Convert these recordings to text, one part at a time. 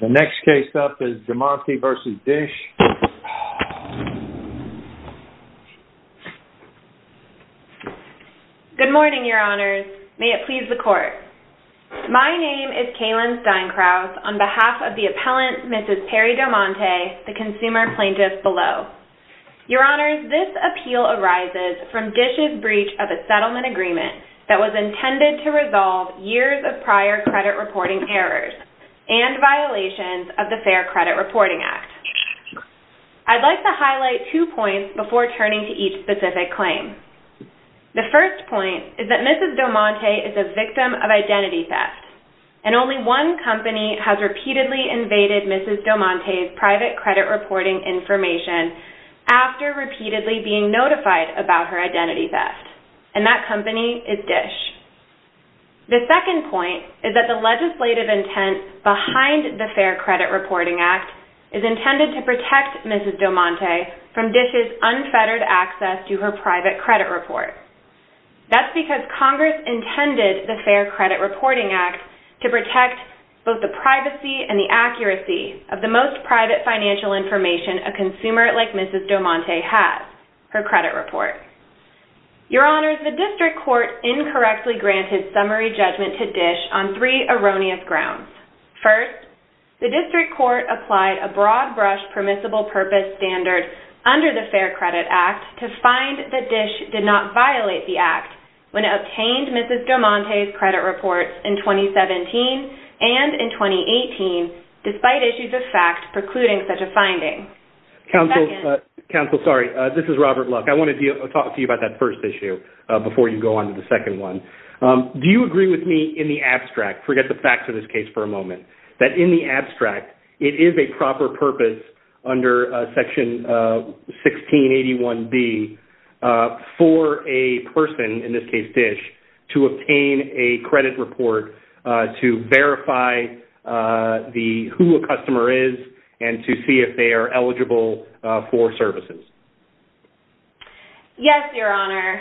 The next case up is Domante v. Dish. Good morning, your honors. May it please the court. My name is Kaylin Steinkraut on behalf of the appellant, Mrs. Peri Domante, the consumer plaintiff below. Your honors, this appeal arises from Dish's breach of a settlement agreement that was intended to resolve years of prior credit reporting errors and violations of the Fair Credit Reporting Act. I'd like to highlight two points before turning to each specific claim. The first point is that Mrs. Domante is a victim of identity theft, and only one company has repeatedly invaded Mrs. Domante's private credit reporting information after repeatedly being notified about her The second point is that the legislative intent behind the Fair Credit Reporting Act is intended to protect Mrs. Domante from Dish's unfettered access to her private credit report. That's because Congress intended the Fair Credit Reporting Act to protect both the privacy and the accuracy of the most private financial information a consumer like Mrs. Domante has, her credit report. Your honors, the district court incorrectly granted summary judgment to Dish on three erroneous grounds. First, the district court applied a broad-brush permissible purpose standard under the Fair Credit Act to find that Dish did not violate the act when it obtained Mrs. Domante's credit reports in 2017 and in 2018, despite issues of fact precluding such a finding. Counsel, sorry, this is Robert Luck. I want to talk to you about that first issue before you go on to the second one. Do you agree with me in the abstract, forget the facts of this case for a moment, that in the abstract, it is a proper purpose under section 1681B for a person, in this case Dish, to obtain a credit report to verify who a customer is and to see if they are eligible for services? Yes, your honor.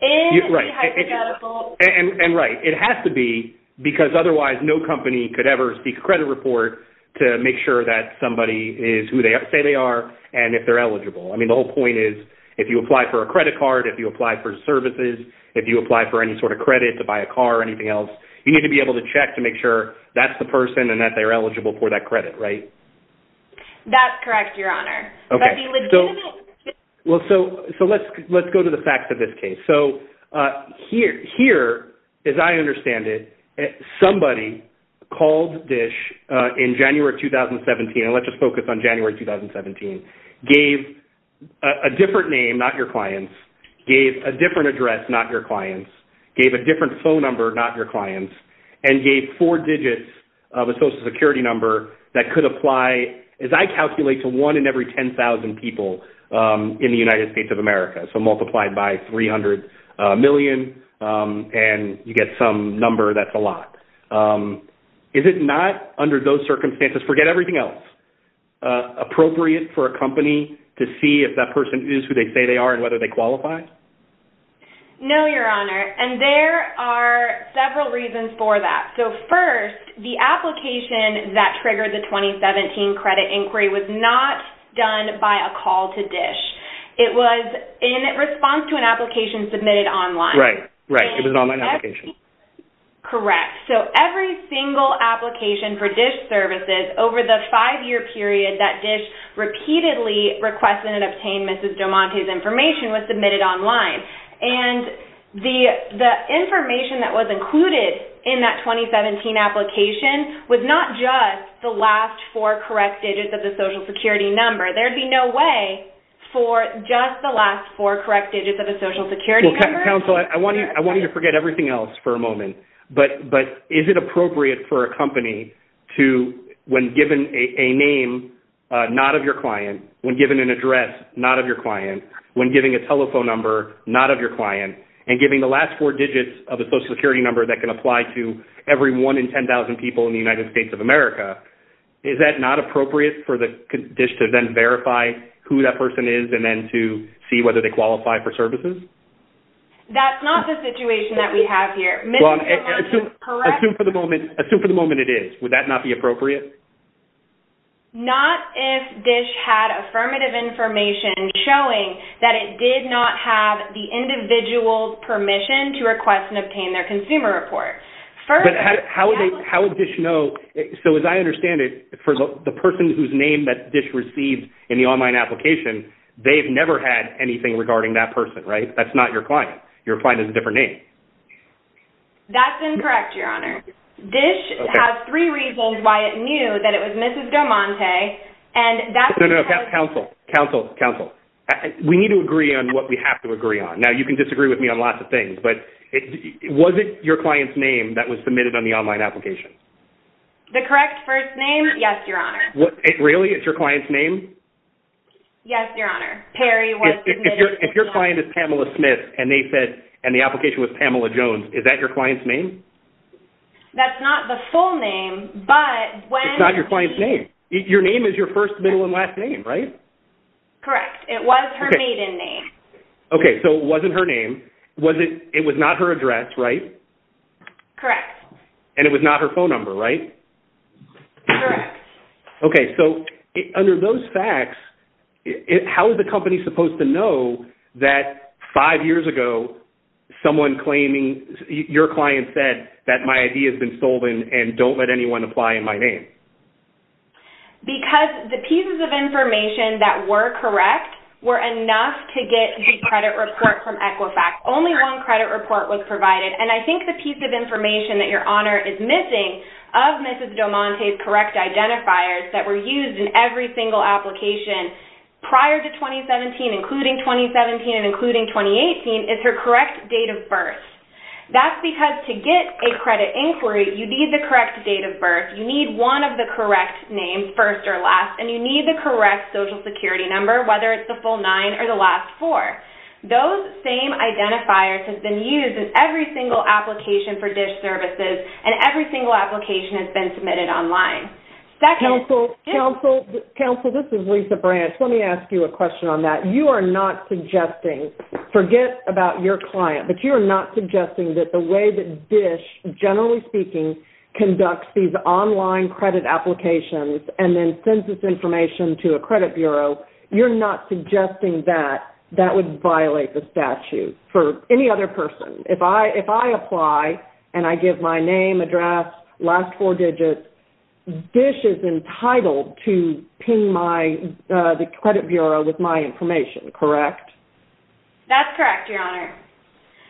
In the hypothetical... And right, it has to be because otherwise no company could ever seek a credit report to make sure that somebody is who they say they are and if they're eligible. I mean, the whole point is if you apply for a credit card, if you apply for services, if you apply for any sort of credit to buy a car or anything else, you need to be able to check to make sure that's the person and that they're eligible for that credit, right? That's correct, your honor. Okay, so let's go to the facts of this case. So here, as I understand it, somebody called Dish in January 2017, and let's just focus on January 2017, gave a different name, not your client's, gave a different address, not your client's, gave a different phone number, not your client's, and gave four digits of a social security number that could apply, as I calculate, to one in every 10,000 people in the United States of America, so multiplied by 300 million, and you get some number that's a lot. Is it not, under those circumstances, forget everything else, appropriate for a company to see if that person is who they say they are and whether they qualify? No, your honor, and there are several reasons for that. So first, the application that triggered the 2017 credit inquiry was not done by a call to Dish. It was in response to an application submitted online. Right, right, it was an online application. Correct, so every single application for Dish services over the five-year period that Dish repeatedly requested and obtained Mrs. Jomonte's information was submitted online, and the information that was included in that 2017 application was not just the last four correct digits of the social security number. There'd be no way for just the last four correct digits of a social security number. Well, counsel, I want you to forget everything else for a moment, but is it appropriate for a company to, when given a name not of your client, when given an address not of your client, when giving a telephone number not of your client, and giving the last four digits of a social security number that can apply to every one in 10,000 people in the United States of America, is that not appropriate for Dish to then verify who that person is and then to see whether they qualify for services? That's not the situation that we have here. Well, assume for the moment it is. Would that not be appropriate? Not if Dish had affirmative information showing that it did not have the individual's permission to request and obtain their consumer report. But how would Dish know? So as I understand it, for the person whose name that Dish received in the online application, they've never had anything regarding that person, right? That's not your client. Your client has a different name. That's incorrect, Your Honor. Dish has three reasons why it knew that it was Mrs. Domonte, and that's because... No, no, no. Counsel. Counsel. Counsel. We need to agree on what we have to agree on. Now, you can disagree with me on lots of things, but was it your client's name that was submitted on the online application? The correct first name? Yes, Your Honor. Really? It's your client's name? Yes, Your Honor. Perry was submitted online. If your client is Pamela Smith, and they said, and the application was Pamela Jones, is that your client's name? That's not the full name, but when she... It's not your client's name. Your name is your first, middle, and last name, right? Correct. It was her maiden name. Okay, so it wasn't her name. It was not her address, right? Correct. And it was not her phone number, right? Correct. Okay, so under those facts, how is the company supposed to know that five years ago, someone claiming your client said that my ID has been stolen and don't let anyone apply in my name? Because the pieces of information that were correct were enough to get the credit report from Equifax. Only one credit report was provided, and I think the piece of information that Your Honor is missing of Mrs. Domonte's correct identifiers that were used in every single application prior to 2017, including 2017, and including 2018, is her correct date of birth. That's because to get a credit inquiry, you need the correct date of birth. You need one of the correct names, first or last, and you need the correct social security number, whether it's the full nine or the last four. Those same identifiers have been used in every single application for DISH services, and every single application has been submitted online. Counsel, this is Lisa Branch. Let me ask you a question on that. You are not suggesting, forget about your client, but you are not suggesting that the way that DISH, generally speaking, conducts these online credit applications and then sends this information to a credit bureau, you're not suggesting that that would violate the statute for any other person. If I apply and I give my name, address, last four digits, DISH is entitled to ping my, the credit bureau with my information, correct? That's correct, Your Honor.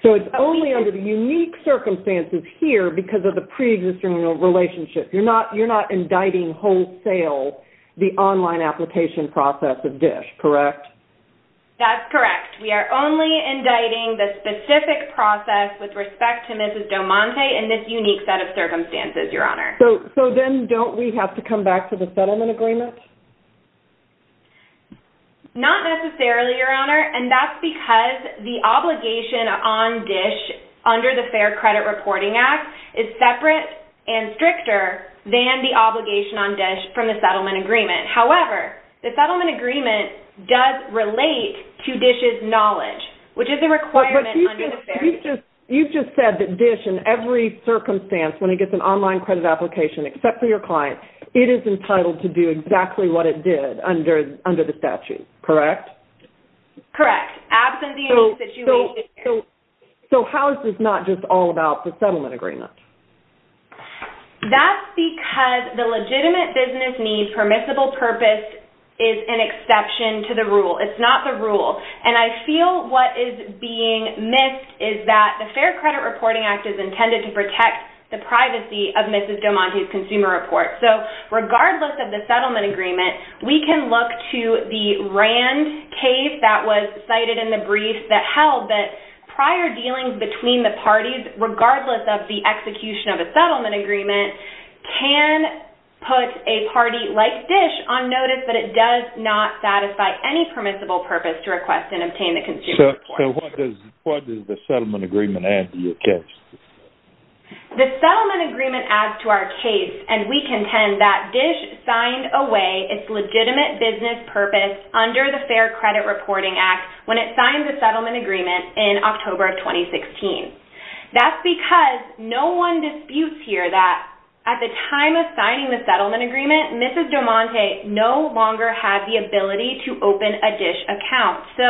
So it's only under the unique circumstances here because of the preexisting relationship. You're not indicting wholesale the online application process of DISH, correct? That's correct. We are only indicting the specific process with respect to Mrs. Domonte in this unique set of circumstances, Your Honor. So then don't we have to come back to the settlement agreement? Not necessarily, Your Honor, and that's because the obligation on DISH under the Fair Credit Reporting Act is separate and stricter than the obligation on DISH from the settlement agreement. However, the settlement agreement does relate to DISH's knowledge, which is a requirement under the Fair Credit Agreement. You just said that DISH, in every circumstance, when it gets an online credit application, except for your client, it is entitled to do exactly what it did under the statute, correct? Correct, absent the unique situation here. So how is this not just all about the settlement agreement? That's because the legitimate business needs permissible purpose is an exception to the rule. It's not the rule. And I feel what is being missed is that the Fair Credit Reporting Act is intended to protect the privacy of Mrs. Domonte's consumer report. So regardless of the settlement agreement, we can look to the RAND case that was cited in the brief that held that prior dealings between the parties, regardless of the execution of a settlement agreement, can put a party like DISH on notice that it does not satisfy any permissible purpose to request and obtain the consumer report. So what does the settlement agreement add to your case? The settlement agreement adds to our case, and we contend that DISH signed away its settlement agreement in October of 2016. That's because no one disputes here that at the time of signing the settlement agreement, Mrs. Domonte no longer has the ability to open a DISH account. So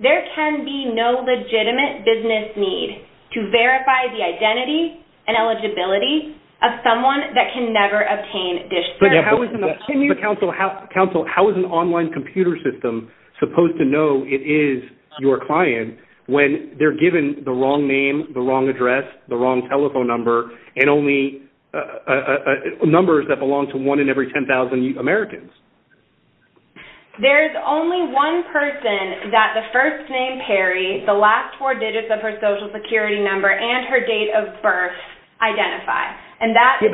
there can be no legitimate business need to verify the identity and eligibility of someone that can never obtain DISH. Can you counsel how is an online computer system supposed to know it is your client when they're given the wrong name, the wrong address, the wrong telephone number, and only numbers that belong to one in every 10,000 Americans? There's only one person that the first name Perry, the last four digits of her Social Security number, and her date of birth identify. Yeah,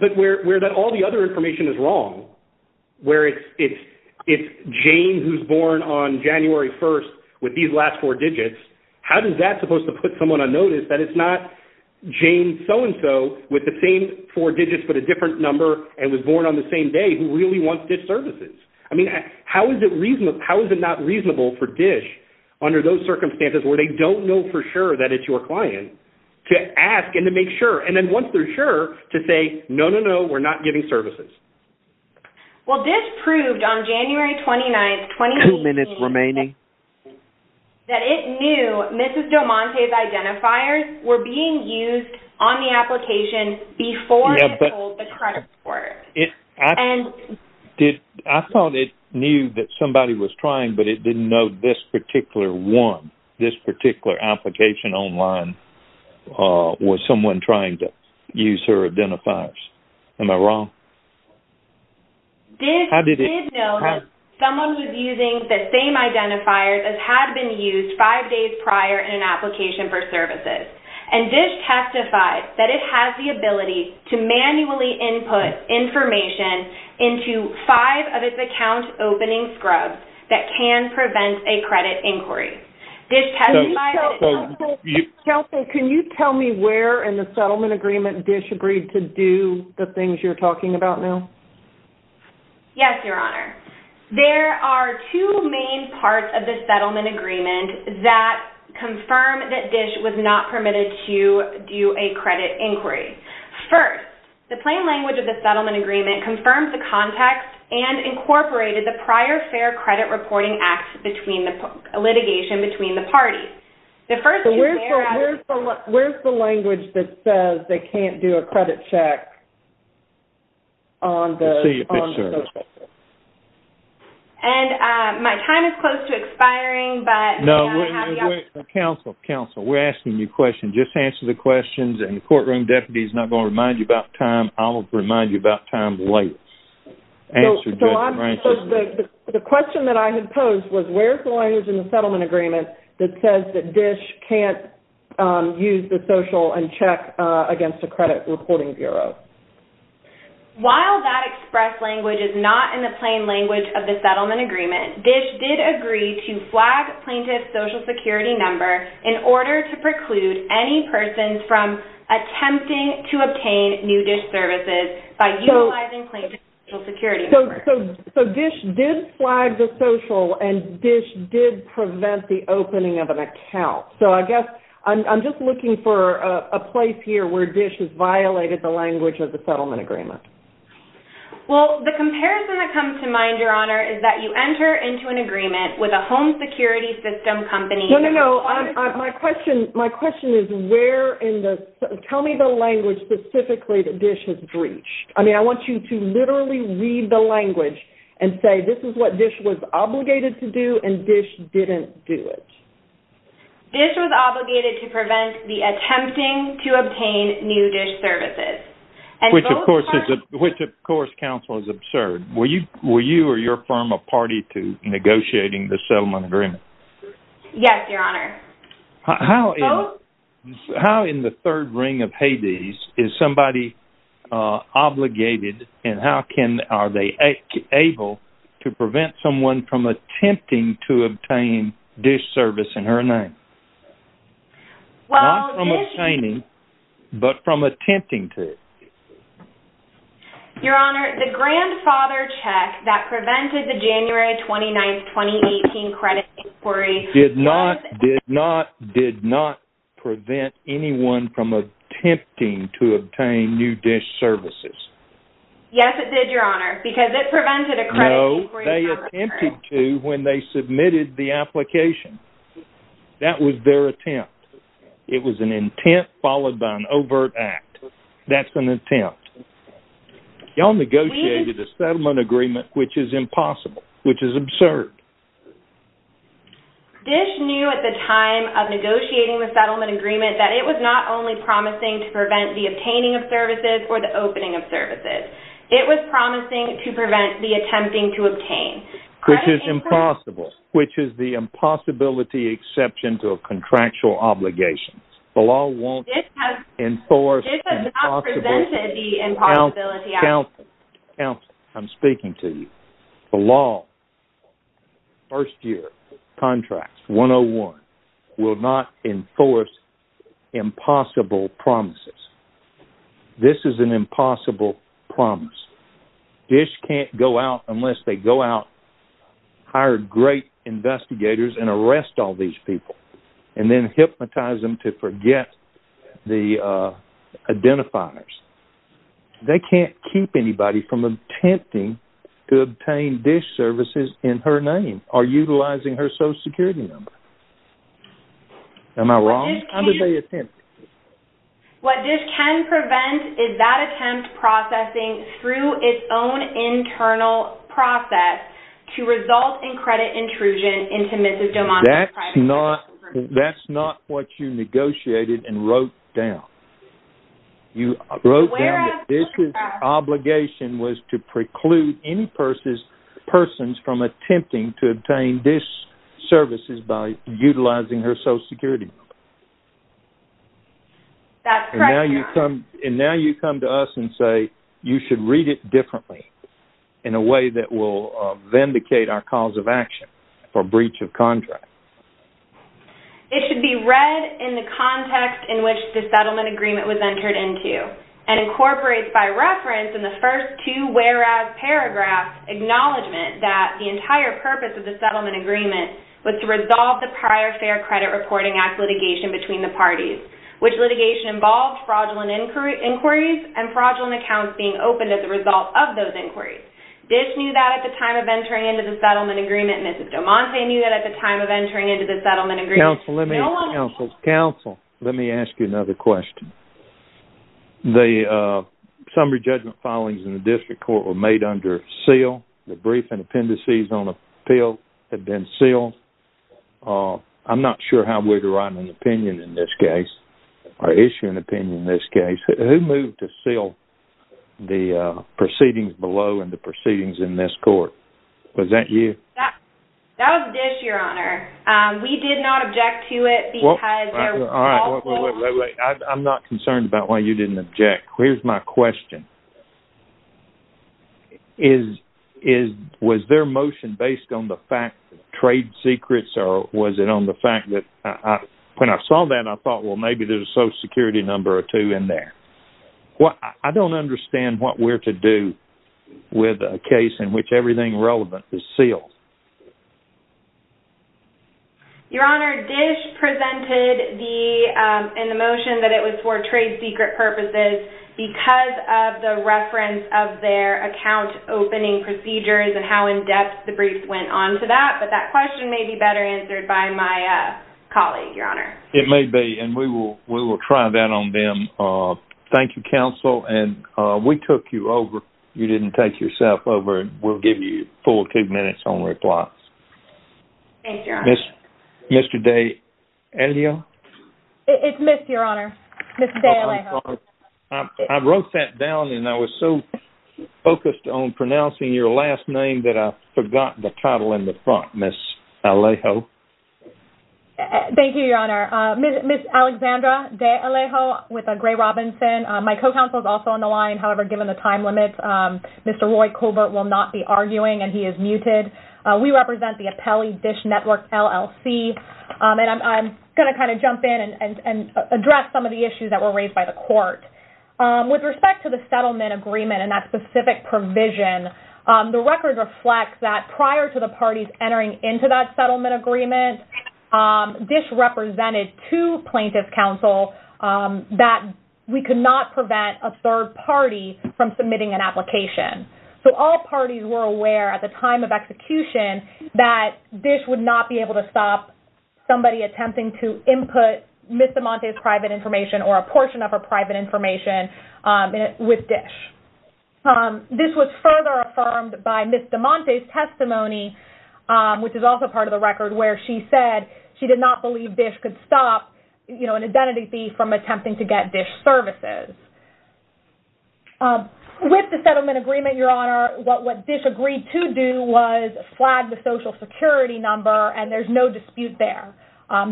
but where all the other information is wrong, where it's Jane who's born on January 1st with these last four digits, how is that supposed to put someone on notice that it's not Jane so-and-so with the same four digits but a different number and was born on the same day who really wants DISH services? I mean, how is it not reasonable for DISH under those circumstances where they don't know for sure that it's your client to ask and to make sure, and then once they're sure, to say, no, no, no, we're not giving services? Well, DISH proved on January 29th, 2018, that it knew Mrs. Domonte's identifiers were being used on the application before it told the credit report. I thought it knew that somebody was trying, but it didn't know this particular one, this particular application online was someone trying to use her identifiers. Am I wrong? DISH did know that someone was using the same identifiers as had been used five days prior in an application for services, and DISH testified that it has the ability to manually input information into five of its account opening scrubs that can prevent a credit inquiry. DISH testified that it... Kelsey, can you tell me where in the settlement agreement DISH agreed to do the things you're talking about now? Yes, Your Honor. There are two main parts of the settlement agreement that confirm that DISH was not permitted to do a credit inquiry. First, the plain language of the settlement agreement confirmed the context and incorporated the prior fair credit reporting acts between the litigation between the parties. The first... Where's the language that says they can't do a credit check on the... Let's see your picture. And my time is close to expiring, but... No, wait, wait, wait. Counsel, counsel, we're asking you questions. Just answer the questions, and the courtroom deputy is not going to remind you about time. I'll remind you about time later. Answered good. The question that I had posed was where's the language in the settlement agreement that says that DISH can't use the social and check against the credit reporting bureau? While that express language is not in the plain language of the settlement agreement, DISH did agree to flag plaintiff's social security number in order to preclude any persons from attempting to obtain new DISH services by utilizing plaintiff's... Social security number. So DISH did flag the social, and DISH did prevent the opening of an account. So I guess I'm just looking for a place here where DISH has violated the language of the settlement agreement. Well, the comparison that comes to mind, Your Honor, is that you enter into an agreement with a home security system company... No, no, no, my question is where in the... Tell me the language specifically that DISH has breached. I mean, I want you to literally read the language and say this is what DISH was obligated to do, and DISH didn't do it. DISH was obligated to prevent the attempting to obtain new DISH services. Which, of course, counsel is absurd. Were you or your firm a party to negotiating the settlement agreement? Yes, Your Honor. How in the third ring of Hades is somebody obligated, and how are they able to prevent someone from attempting to obtain DISH service in her name? Well, DISH... Not from obtaining, but from attempting to. Your Honor, the grandfather check that prevented the January 29, 2018 credit inquiry... Did not, did not, did not prevent anyone from attempting to obtain new DISH services. Yes, it did, Your Honor, because it prevented a credit inquiry... No, they attempted to when they submitted the application. That was their attempt. It was an intent followed by an overt act. That's an attempt. Y'all negotiated a settlement agreement, which is impossible, which is absurd. DISH knew at the time of negotiating the settlement agreement that it was not only promising to prevent the obtaining of services or the opening of services. It was promising to prevent the attempting to obtain. Which is impossible, which is the impossibility exception to a contractual obligation. The law won't enforce impossibility... DISH has not presented the impossibility... Counsel, counsel, counsel, I'm speaking to you. The law, first year contracts, 101, will not enforce impossible promises. This is an impossible promise. DISH can't go out unless they go out, hire great investigators and arrest all these people, and then hypnotize them to forget the identifiers. They can't keep anybody from attempting to obtain DISH services in her name or utilizing her social security number. Am I wrong? How did they attempt? What DISH can prevent is that attempt processing through its own internal process to result in credit intrusion into Mrs. Doman's private... That's not what you negotiated and wrote down. You wrote down that DISH's obligation was to preclude any persons from attempting to obtain DISH services by utilizing her social security number. That's correct, Your Honor. And now you come to us and say you should read it differently in a way that will vindicate our cause of action for breach of contract. It should be read in the context in which the settlement agreement was entered into and incorporates by reference in the first two whereas paragraphs, acknowledgment that the entire purpose of the settlement agreement was to resolve the prior Fair Credit Reporting Act litigation between the parties, which litigation involved fraudulent inquiries and fraudulent accounts being opened as a result of those inquiries. DISH knew that at the time of entering into the settlement agreement, Mrs. Doman knew that at the time of entering into the settlement agreement... Counsel, let me ask you another question. The summary judgment filings in the district court were made under seal. The brief and appendices on appeal had been sealed. I'm not sure how we derive an opinion in this case or issue an opinion in this case. Who moved to seal the proceedings below and the proceedings in this court? Was that you? That was DISH, Your Honor. We did not object to it because... All right, wait, wait, wait. I'm not concerned about why you didn't object. Here's my question. Was their motion based on the fact that trade secrets or was it on the fact that... When I saw that, I thought, well, maybe there's a social security number or two in there. I don't understand what we're to do with a case in which everything relevant is sealed. Your Honor, DISH presented in the motion that it was for trade secret purposes because of the reference of their account opening procedures and how in-depth the briefs went on to that. But that question may be better answered by my colleague, Your Honor. It may be, and we will try that on them. Thank you, Counsel. And we took you over. You didn't take yourself over. We'll give you four to two minutes on replies. Thank you, Your Honor. Ms... Mr. De Alejo? It's Ms., Your Honor. Ms. De Alejo. I wrote that down and I was so focused on pronouncing your last name that I forgot the title in the front, Ms. Alejo. Thank you, Your Honor. Ms. Alexandra De Alejo with Gray Robinson. My co-counsel is also on the line. However, given the time limit, Mr. Roy Colbert will not be arguing and he is muted. We represent the Appellee Dish Network, LLC. And I'm going to kind of jump in and address some of the issues that were raised by the court. With respect to the settlement agreement and that specific provision, the record reflects that prior to the parties entering into that settlement agreement, Dish represented two plaintiffs' counsel that we could not prevent a third party from submitting an application. So all parties were aware at the time of execution that Dish would not be able to stop somebody attempting to input Ms. De Monte's private information or a portion of her private information with Dish. This was further affirmed by Ms. De Monte's testimony, which is also part of the record, where she said she did not believe Dish could stop, you know, an identity thief from attempting to get Dish services. With the settlement agreement, Your Honor, what Dish agreed to do was flag the social security number, and there's no dispute there.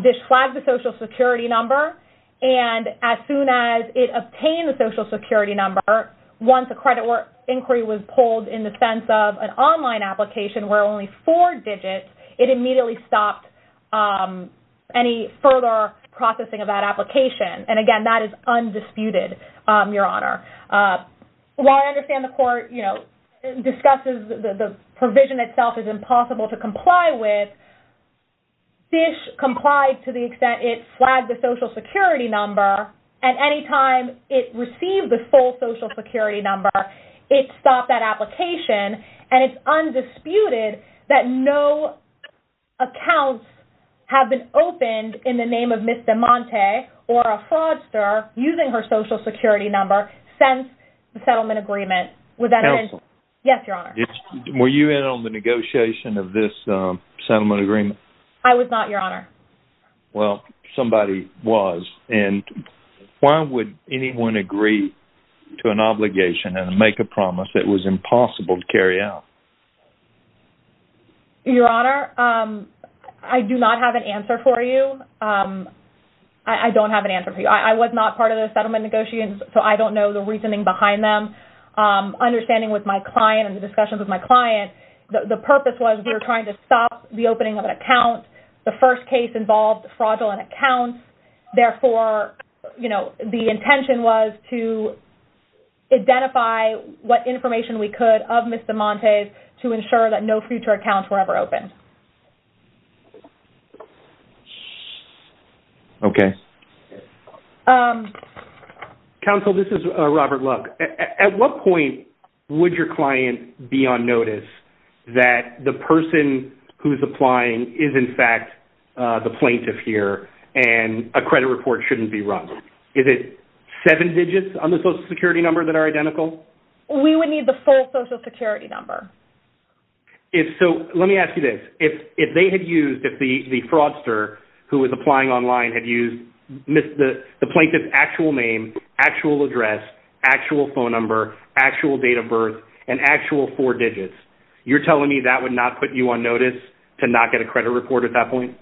Dish flagged the social security number, and as soon as it obtained the social security number, once a credit inquiry was pulled in the sense of an online application where only four digits, it immediately stopped any further processing of that application. And again, that is undisputed. Your Honor, while I understand the court, you know, discusses the provision itself is impossible to comply with, Dish complied to the extent it flagged the social security number, and any time it received the full social security number, it stopped that application. And it's undisputed that no accounts have been opened in the name of Ms. De Monte or a fraudster using her social security number since the settlement agreement. Counsel. Yes, Your Honor. Were you in on the negotiation of this settlement agreement? I was not, Your Honor. Well, somebody was. And why would anyone agree to an obligation and make a promise that was impossible to carry out? Your Honor, I do not have an answer for you. I don't have an answer for you. I was not part of the settlement negotiations, so I don't know the reasoning behind them. Understanding with my client and the discussions with my client, the purpose was we were trying to stop the opening of an account. The first case involved fraudulent accounts. Therefore, you know, the intention was to identify what information we could of Ms. De Monte to ensure that no future accounts were ever opened. Okay. Counsel, this is Robert Lugg. At what point would your client be on notice that the person who's applying is, in fact, the plaintiff here and a credit report shouldn't be run? Is it seven digits on the social security number that are identical? We would need the full social security number. If so, let me ask you this. If they had used, if the fraudster who was applying online had used the plaintiff's actual name, actual address, actual phone number, actual date of birth, and actual four digits, you're telling me that would not put you on notice to not get a credit report at that point?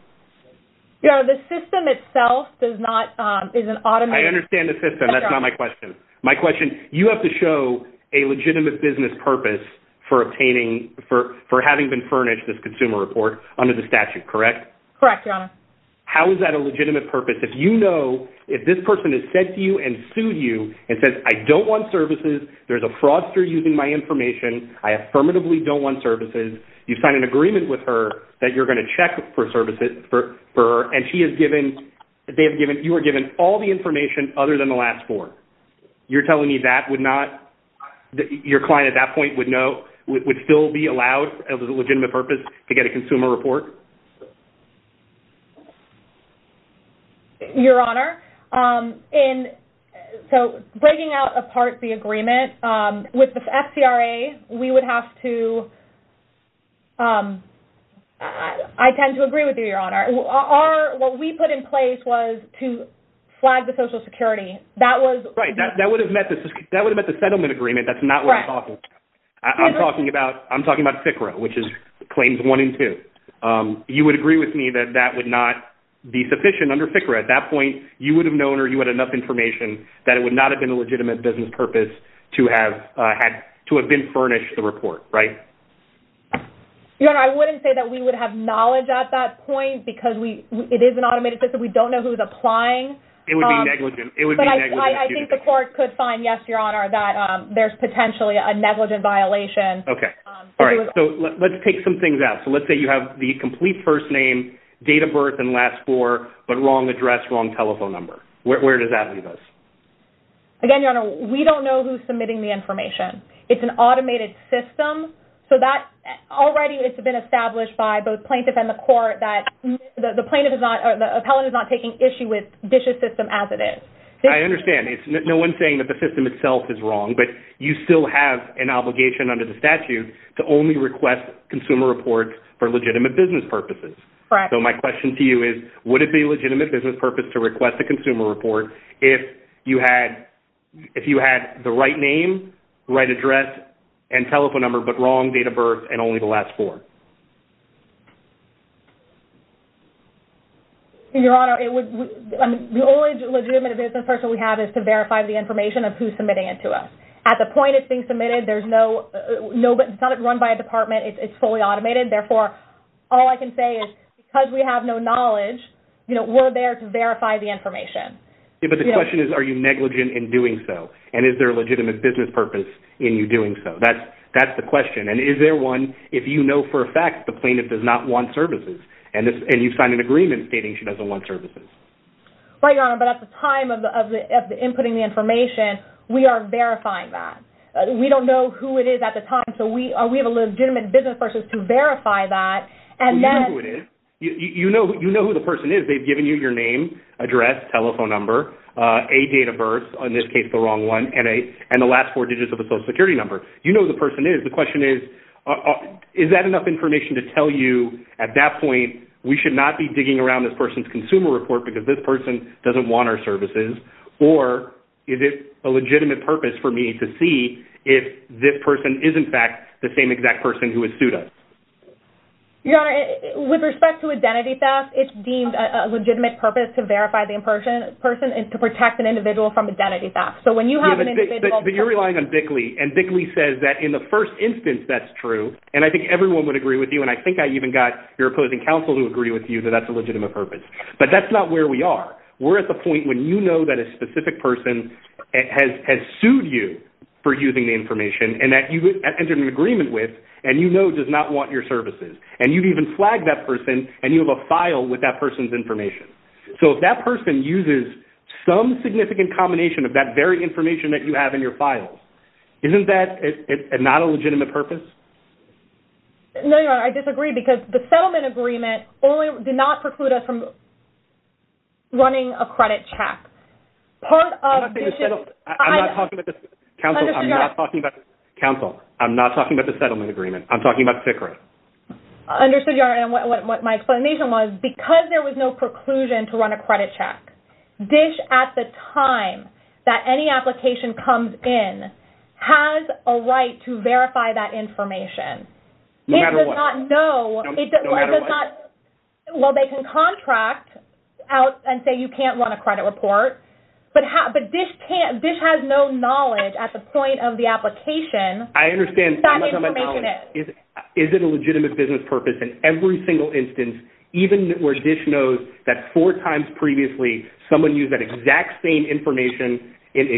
Your Honor, the system itself does not, is an automated... I understand the system. That's not my question. My question, you have to show a legitimate business purpose for obtaining, for having been furnished this consumer report under the statute, correct? Correct, Your Honor. How is that a legitimate purpose? If you know, if this person has said to you and sued you and says, I don't want services, there's a fraudster using my information, I affirmatively don't want services, you've signed an agreement with her that you're going to check for services for her, and she has given, they have given, you are given all the information other than the last four. You're telling me that would not, your client at that point would know, would still be allowed as a legitimate purpose to get a consumer report? Your Honor, in, so breaking out apart the agreement with the FCRA, we would have to, I tend to agree with you, Your Honor. What we put in place was to flag the Social Security. That was... Right, that would have met the settlement agreement. That's not what I'm talking about. I'm talking about FCRA, which is claims one and two. You would agree with me that that would not be sufficient under FCRA. At that point, you would have known or you had enough information that it would not have been a legitimate business purpose to have, to have been furnished the report, right? Your Honor, I wouldn't say that we would have knowledge at that point, it is an automated system. We don't know who's applying. It would be negligent. It would be negligent. I think the court could find, yes, Your Honor, that there's potentially a negligent violation. Okay. All right. So let's take some things out. So let's say you have the complete first name, date of birth, and last four, but wrong address, wrong telephone number. Where does that leave us? Again, Your Honor, we don't know who's submitting the information. It's an automated system. So that already it's been established by both plaintiff and the court that the plaintiff is not or the appellant is not taking issue with DISH's system as it is. I understand. It's no one saying that the system itself is wrong, but you still have an obligation under the statute to only request consumer reports for legitimate business purposes. Correct. So my question to you is, would it be a legitimate business purpose to request a consumer report if you had the right name, right address, and telephone number, but wrong date of birth, and only the last four? Your Honor, the only legitimate business purpose we have is to verify the information of who's submitting it to us. At the point it's being submitted, it's not run by a department. It's fully automated. Therefore, all I can say is, because we have no knowledge, we're there to verify the information. But the question is, are you negligent in doing so? And is there a legitimate business purpose in you doing so? That's the question. And is there one, if you know for a fact the plaintiff does not want services, and you've signed an agreement stating she doesn't want services? Right, Your Honor. But at the time of inputting the information, we are verifying that. We don't know who it is at the time. So we have a legitimate business purpose to verify that. You know who it is. You know who the person is. They've given you your name, address, telephone number, a date of birth, in this case the wrong one, and the last four digits of a Social Security number. You know who the person is. The question is, is that enough information to tell you at that point, we should not be digging around this person's consumer report because this person doesn't want our services? Or is it a legitimate purpose for me to see if this person is, in fact, the same exact person who has sued us? Your Honor, with respect to identity theft, it's deemed a legitimate purpose to verify the person and to protect an individual from identity theft. So when you have an individual- But you're relying on Bickley. And Bickley says that in the first instance that's true. And I think everyone would agree with you. And I think I even got your opposing counsel to agree with you that that's a legitimate purpose. But that's not where we are. We're at the point when you know that a specific person has sued you for using the information and that you entered an agreement with and you know does not want your services. And you've even flagged that person and you have a file with that person's information. So if that person uses some significant combination of that very information that you have in your files, isn't that not a legitimate purpose? No, Your Honor. I disagree because the settlement agreement only did not preclude us from running a credit check. Part of- I'm not talking about this- Counsel, I'm not talking about this- Counsel, I'm not talking about the settlement agreement. I'm talking about FICRA. Understood, Your Honor. And what my explanation was, because there was no preclusion to run a credit check, DISH at the time that any application comes in has a right to verify that information. No matter what. It does not know. Well, they can contract out and say you can't run a credit report. But DISH has no knowledge at the point of the application what that information is. I understand. Is it a legitimate business purpose in every single instance, even where DISH knows that four times previously someone used that exact same information and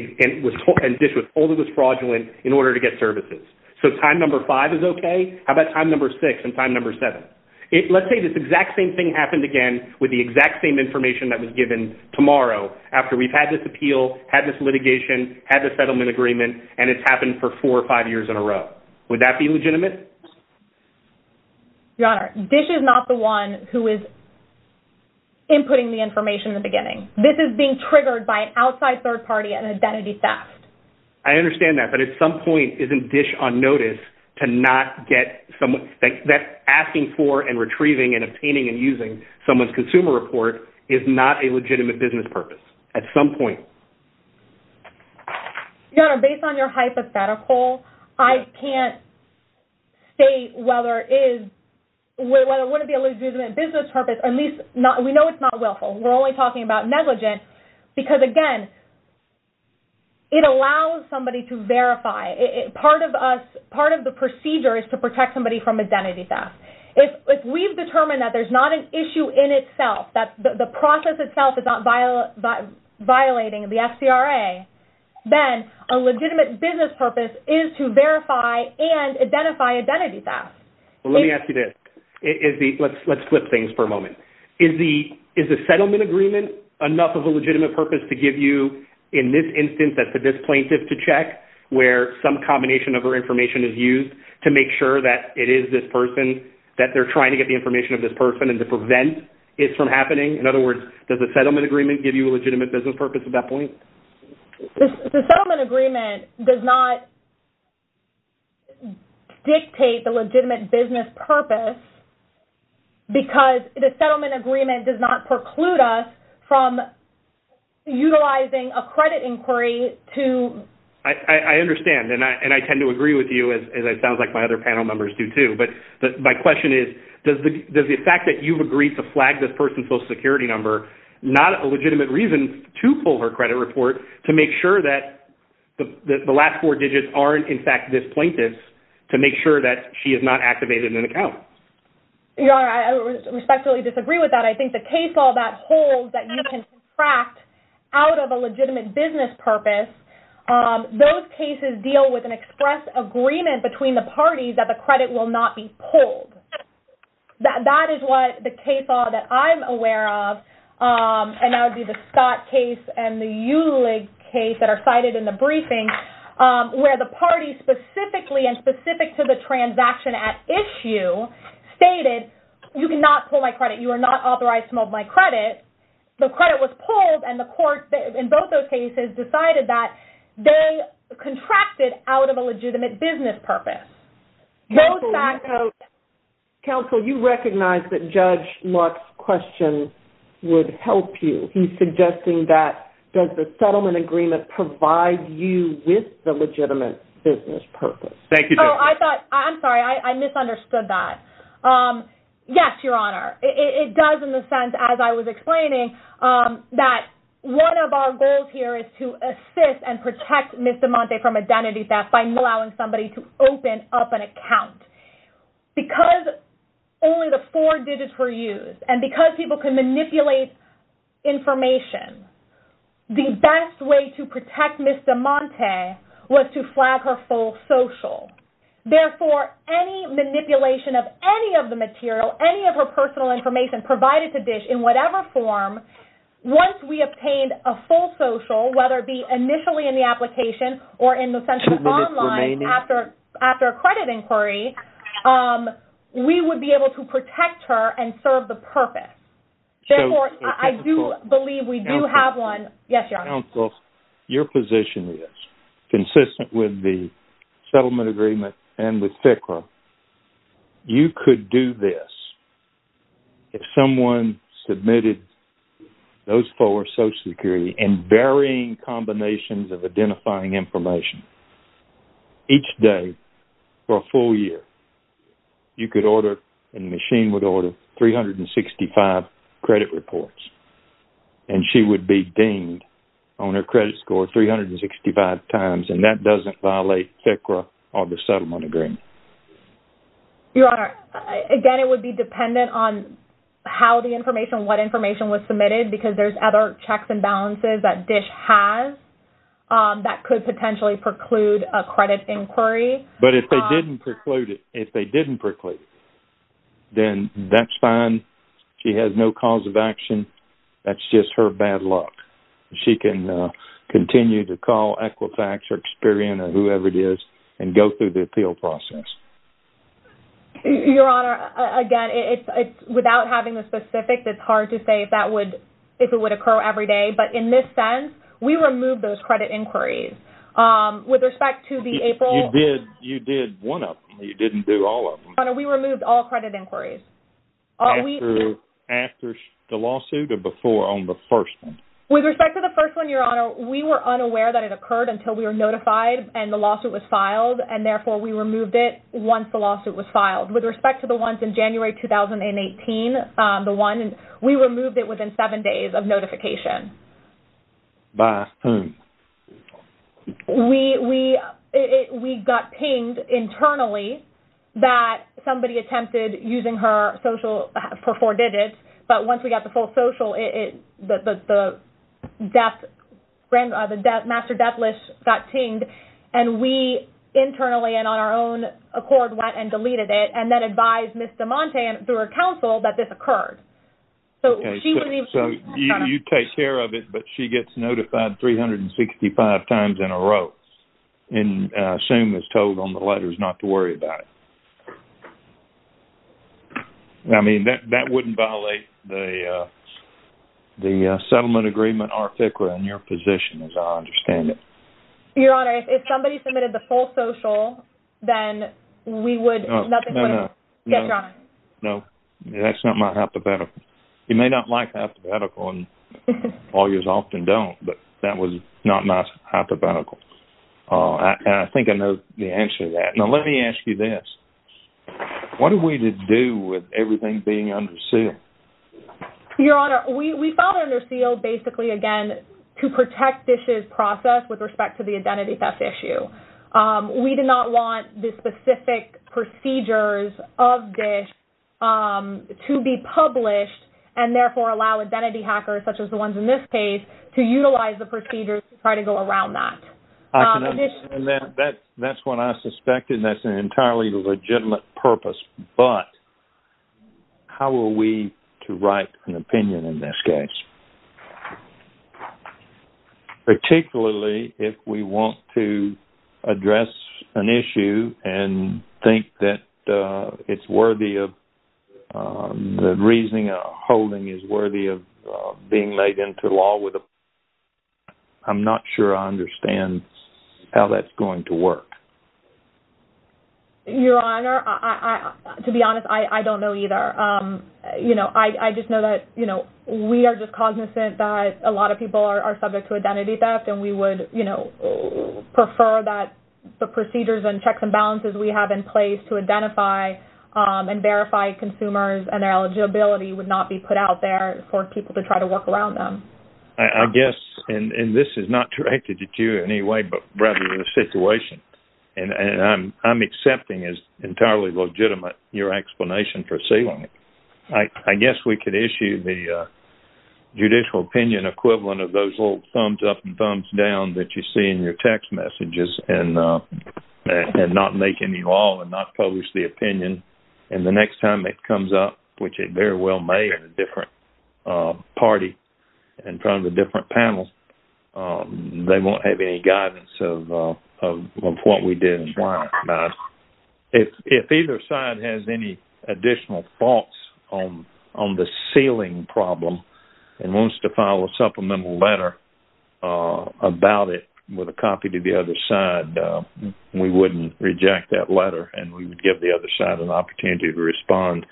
DISH was told it was fraudulent in order to get services? So time number five is okay. How about time number six and time number seven? Let's say this exact same thing happened again with the exact same information that was given tomorrow after we've had this appeal, had this litigation, had the settlement agreement, and it's happened for four or five years in a row. Would that be legitimate? Your Honor, DISH is not the one who is inputting the information in the beginning. This is being triggered by an outside third party, an identity theft. I understand that. But at some point, isn't DISH on notice to not get someone that's asking for and retrieving and obtaining and using someone's consumer report is not a legitimate business purpose at some point? Your Honor, based on your hypothetical, I can't state whether it wouldn't be a legitimate business purpose, at least we know it's not willful. We're only talking about negligence because, again, it allows somebody to verify. Part of the procedure is to protect somebody from identity theft. If we've determined that there's not an issue in itself, that the process itself is not violating the FCRA, then a legitimate business purpose is to verify and identify identity theft. Well, let me ask you this. Let's flip things for a moment. Is the settlement agreement enough of a legitimate purpose to give you, in this instance, that the DISH plaintiff to check where some combination of her information is used to make sure that it is this person, that they're trying to get the information of this person and to prevent it from happening? In other words, does the settlement agreement give you a legitimate business purpose at that point? The settlement agreement does not dictate the legitimate business purpose because the settlement agreement does not preclude us from utilizing a credit inquiry to... I understand, and I tend to agree with you, as it sounds like my other panel members do, too. But my question is, does the fact that you've agreed to flag this person's social security number not a legitimate reason to pull her credit report to make sure that the last four digits aren't, in fact, this plaintiff's, to make sure that she is not activated in an account? I respectfully disagree with that. I think the case law that holds that you can contract out of a legitimate business purpose, those cases deal with an express agreement between the parties that the credit will not be pulled. That is what the case law that I'm aware of, and that would be the Scott case and the Eulig case that are cited in the briefing, where the party specifically and specific to the transaction at issue stated, you cannot pull my credit. You are not authorized to mow my credit. The credit was pulled, and the court in both those cases decided that they contracted out of a legitimate business purpose. Counsel, you recognize that Judge Lark's question would help you. He's suggesting that, does the settlement agreement provide you with the legitimate business purpose? Thank you. Oh, I thought, I'm sorry. I misunderstood that. Yes, Your Honor. It does in the sense, as I was explaining, that one of our goals here is to assist and protect Ms. DeMonte from identity theft by allowing somebody to open up an account. Because only the four digits were used, and because people can manipulate information, the best way to protect Ms. DeMonte was to flag her full social. Therefore, any manipulation of any of the material, any of her personal information provided to DISH in whatever form, once we obtained a full social, whether it be initially in the application or in the central online after a credit inquiry, we would be able to protect her and serve the purpose. Therefore, I do believe we do have one. Yes, Your Honor. Your position is, consistent with the settlement agreement and with FCRA, you could do this if someone submitted those four social security and varying combinations of identifying information each day for a full year. You could order, and the machine would order, 365 credit reports, and she would be deemed on her credit score 365 times, and that doesn't violate FCRA or the settlement agreement. Your Honor, again, it would be dependent on how the information, what information was submitted, because there's other checks and balances that DISH has that could potentially preclude a credit inquiry. But if they didn't preclude it, then that's fine. She has no cause of action. That's just her bad luck. She can continue to call Equifax or Experian or whoever it is and go through the appeal process. Your Honor, again, it's without having the specifics, it's hard to say if that would, if it would occur every day. But in this sense, we removed those credit inquiries. With respect to the April… You did one of them. You didn't do all of them. Your Honor, we removed all credit inquiries. After the lawsuit or before on the first one? With respect to the first one, Your Honor, we were unaware that it occurred until we were notified and the lawsuit was filed. And therefore, we removed it once the lawsuit was filed. With respect to the ones in January 2018, the one, we removed it within seven days of notification. We got pinged internally that somebody attempted using her social for four digits. But once we got the full social, the death, the master death list got pinged. And we internally and on our own accord went and deleted it and then advised Ms. DeMonte through her counsel that this occurred. So, she would be… So, you take care of it, but she gets notified 365 times in a row. And I assume is told on the letters not to worry about it. I mean, that wouldn't violate the settlement agreement article in your position, as I understand it. Your Honor, if somebody submitted the full social, then we would… No, no, no. …nothing would get drawn. No, that's not my hypothetical. You may not like the hypothetical, and lawyers often don't, but that was not my hypothetical. And I think I know the answer to that. Now, let me ask you this. What are we to do with everything being under seal? Your Honor, we found it under seal basically, again, to protect DISH's process with respect to the identity theft issue. We did not want the specific procedures of DISH to be published and therefore allow identity hackers, such as the ones in this case, to utilize the procedures to try to go around that. And that's what I suspected. That's an entirely legitimate purpose. But how are we to write an opinion in this case? Particularly if we want to address an issue and think that it's worthy of… the reasoning or holding is worthy of being made into law with a… I'm not sure I understand how that's going to work. Your Honor, to be honest, I don't know either. You know, I just know that, you know, we are just cognizant that a lot of people are subject to identity theft, and we would, you know, prefer that the procedures and checks and balances we have in place to identify and verify consumers and their eligibility would not be put out there for people to try to work around them. I guess, and this is not directed at you in any way, but rather the situation, and I'm accepting as entirely legitimate your explanation for sealing it. I guess we could issue the judicial opinion equivalent of those little thumbs up and thumbs down that you see in your text messages and not make any law and not publish the opinion. And the next time it comes up, which it very well may in a different party in front of the different panels, they won't have any guidance of what we did and why. If either side has any additional thoughts on the sealing problem and wants to file a supplemental letter about it with a copy to the other side, we wouldn't reject that opportunity to respond.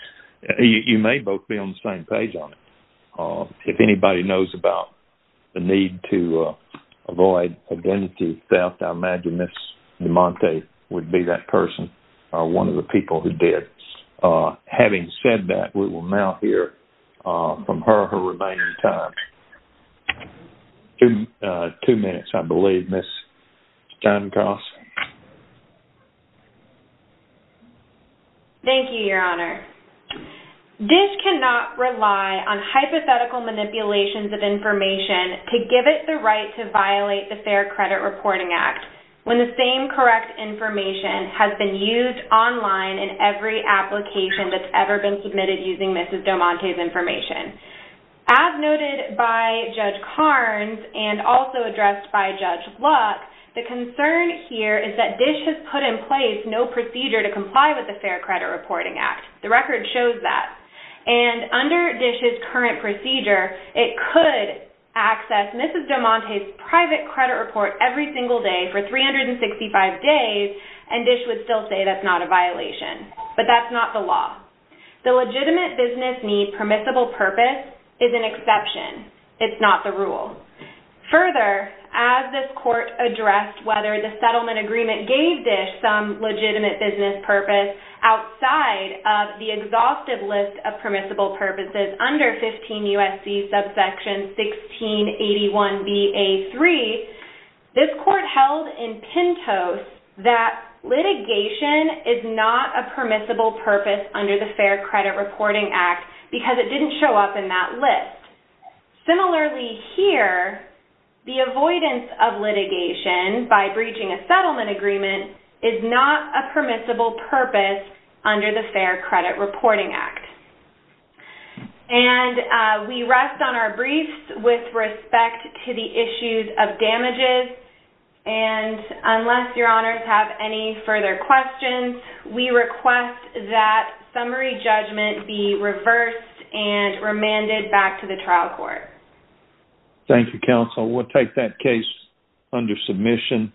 You may both be on the same page on it. If anybody knows about the need to avoid identity theft, I imagine Ms. DeMonte would be that person or one of the people who did. Having said that, we will now hear from her her remaining time. Two minutes, I believe, Ms. Steinecross. Thank you, Your Honor. DISH cannot rely on hypothetical manipulations of information to give it the right to violate the Fair Credit Reporting Act when the same correct information has been used online in every application that's ever been submitted using Ms. DeMonte's information. As noted by Judge Carnes and also addressed by Judge Luck, the concern here is that DISH has put in place no procedure to comply with the Fair Credit Reporting Act. The record shows that. Under DISH's current procedure, it could access Ms. DeMonte's private credit report every single day for 365 days, and DISH would still say that's not a violation. But that's not the law. The legitimate business need permissible purpose is an exception. It's not the rule. Further, as this court addressed whether the settlement agreement gave DISH some legitimate business purpose outside of the exhaustive list of permissible purposes under 15 U.S.C. subsection 1681bA3, this court held in Pintos that litigation is not a permissible purpose under the Fair Credit Reporting Act because it didn't show up in that list. Similarly here, the avoidance of litigation by breaching a settlement agreement is not a permissible purpose under the Fair Credit Reporting Act. And we rest on our briefs with respect to the issues of damages. And unless your honors have any further questions, we request that summary judgment be reversed and remanded back to the trial court. Thank you, counsel. We'll take that case under submission.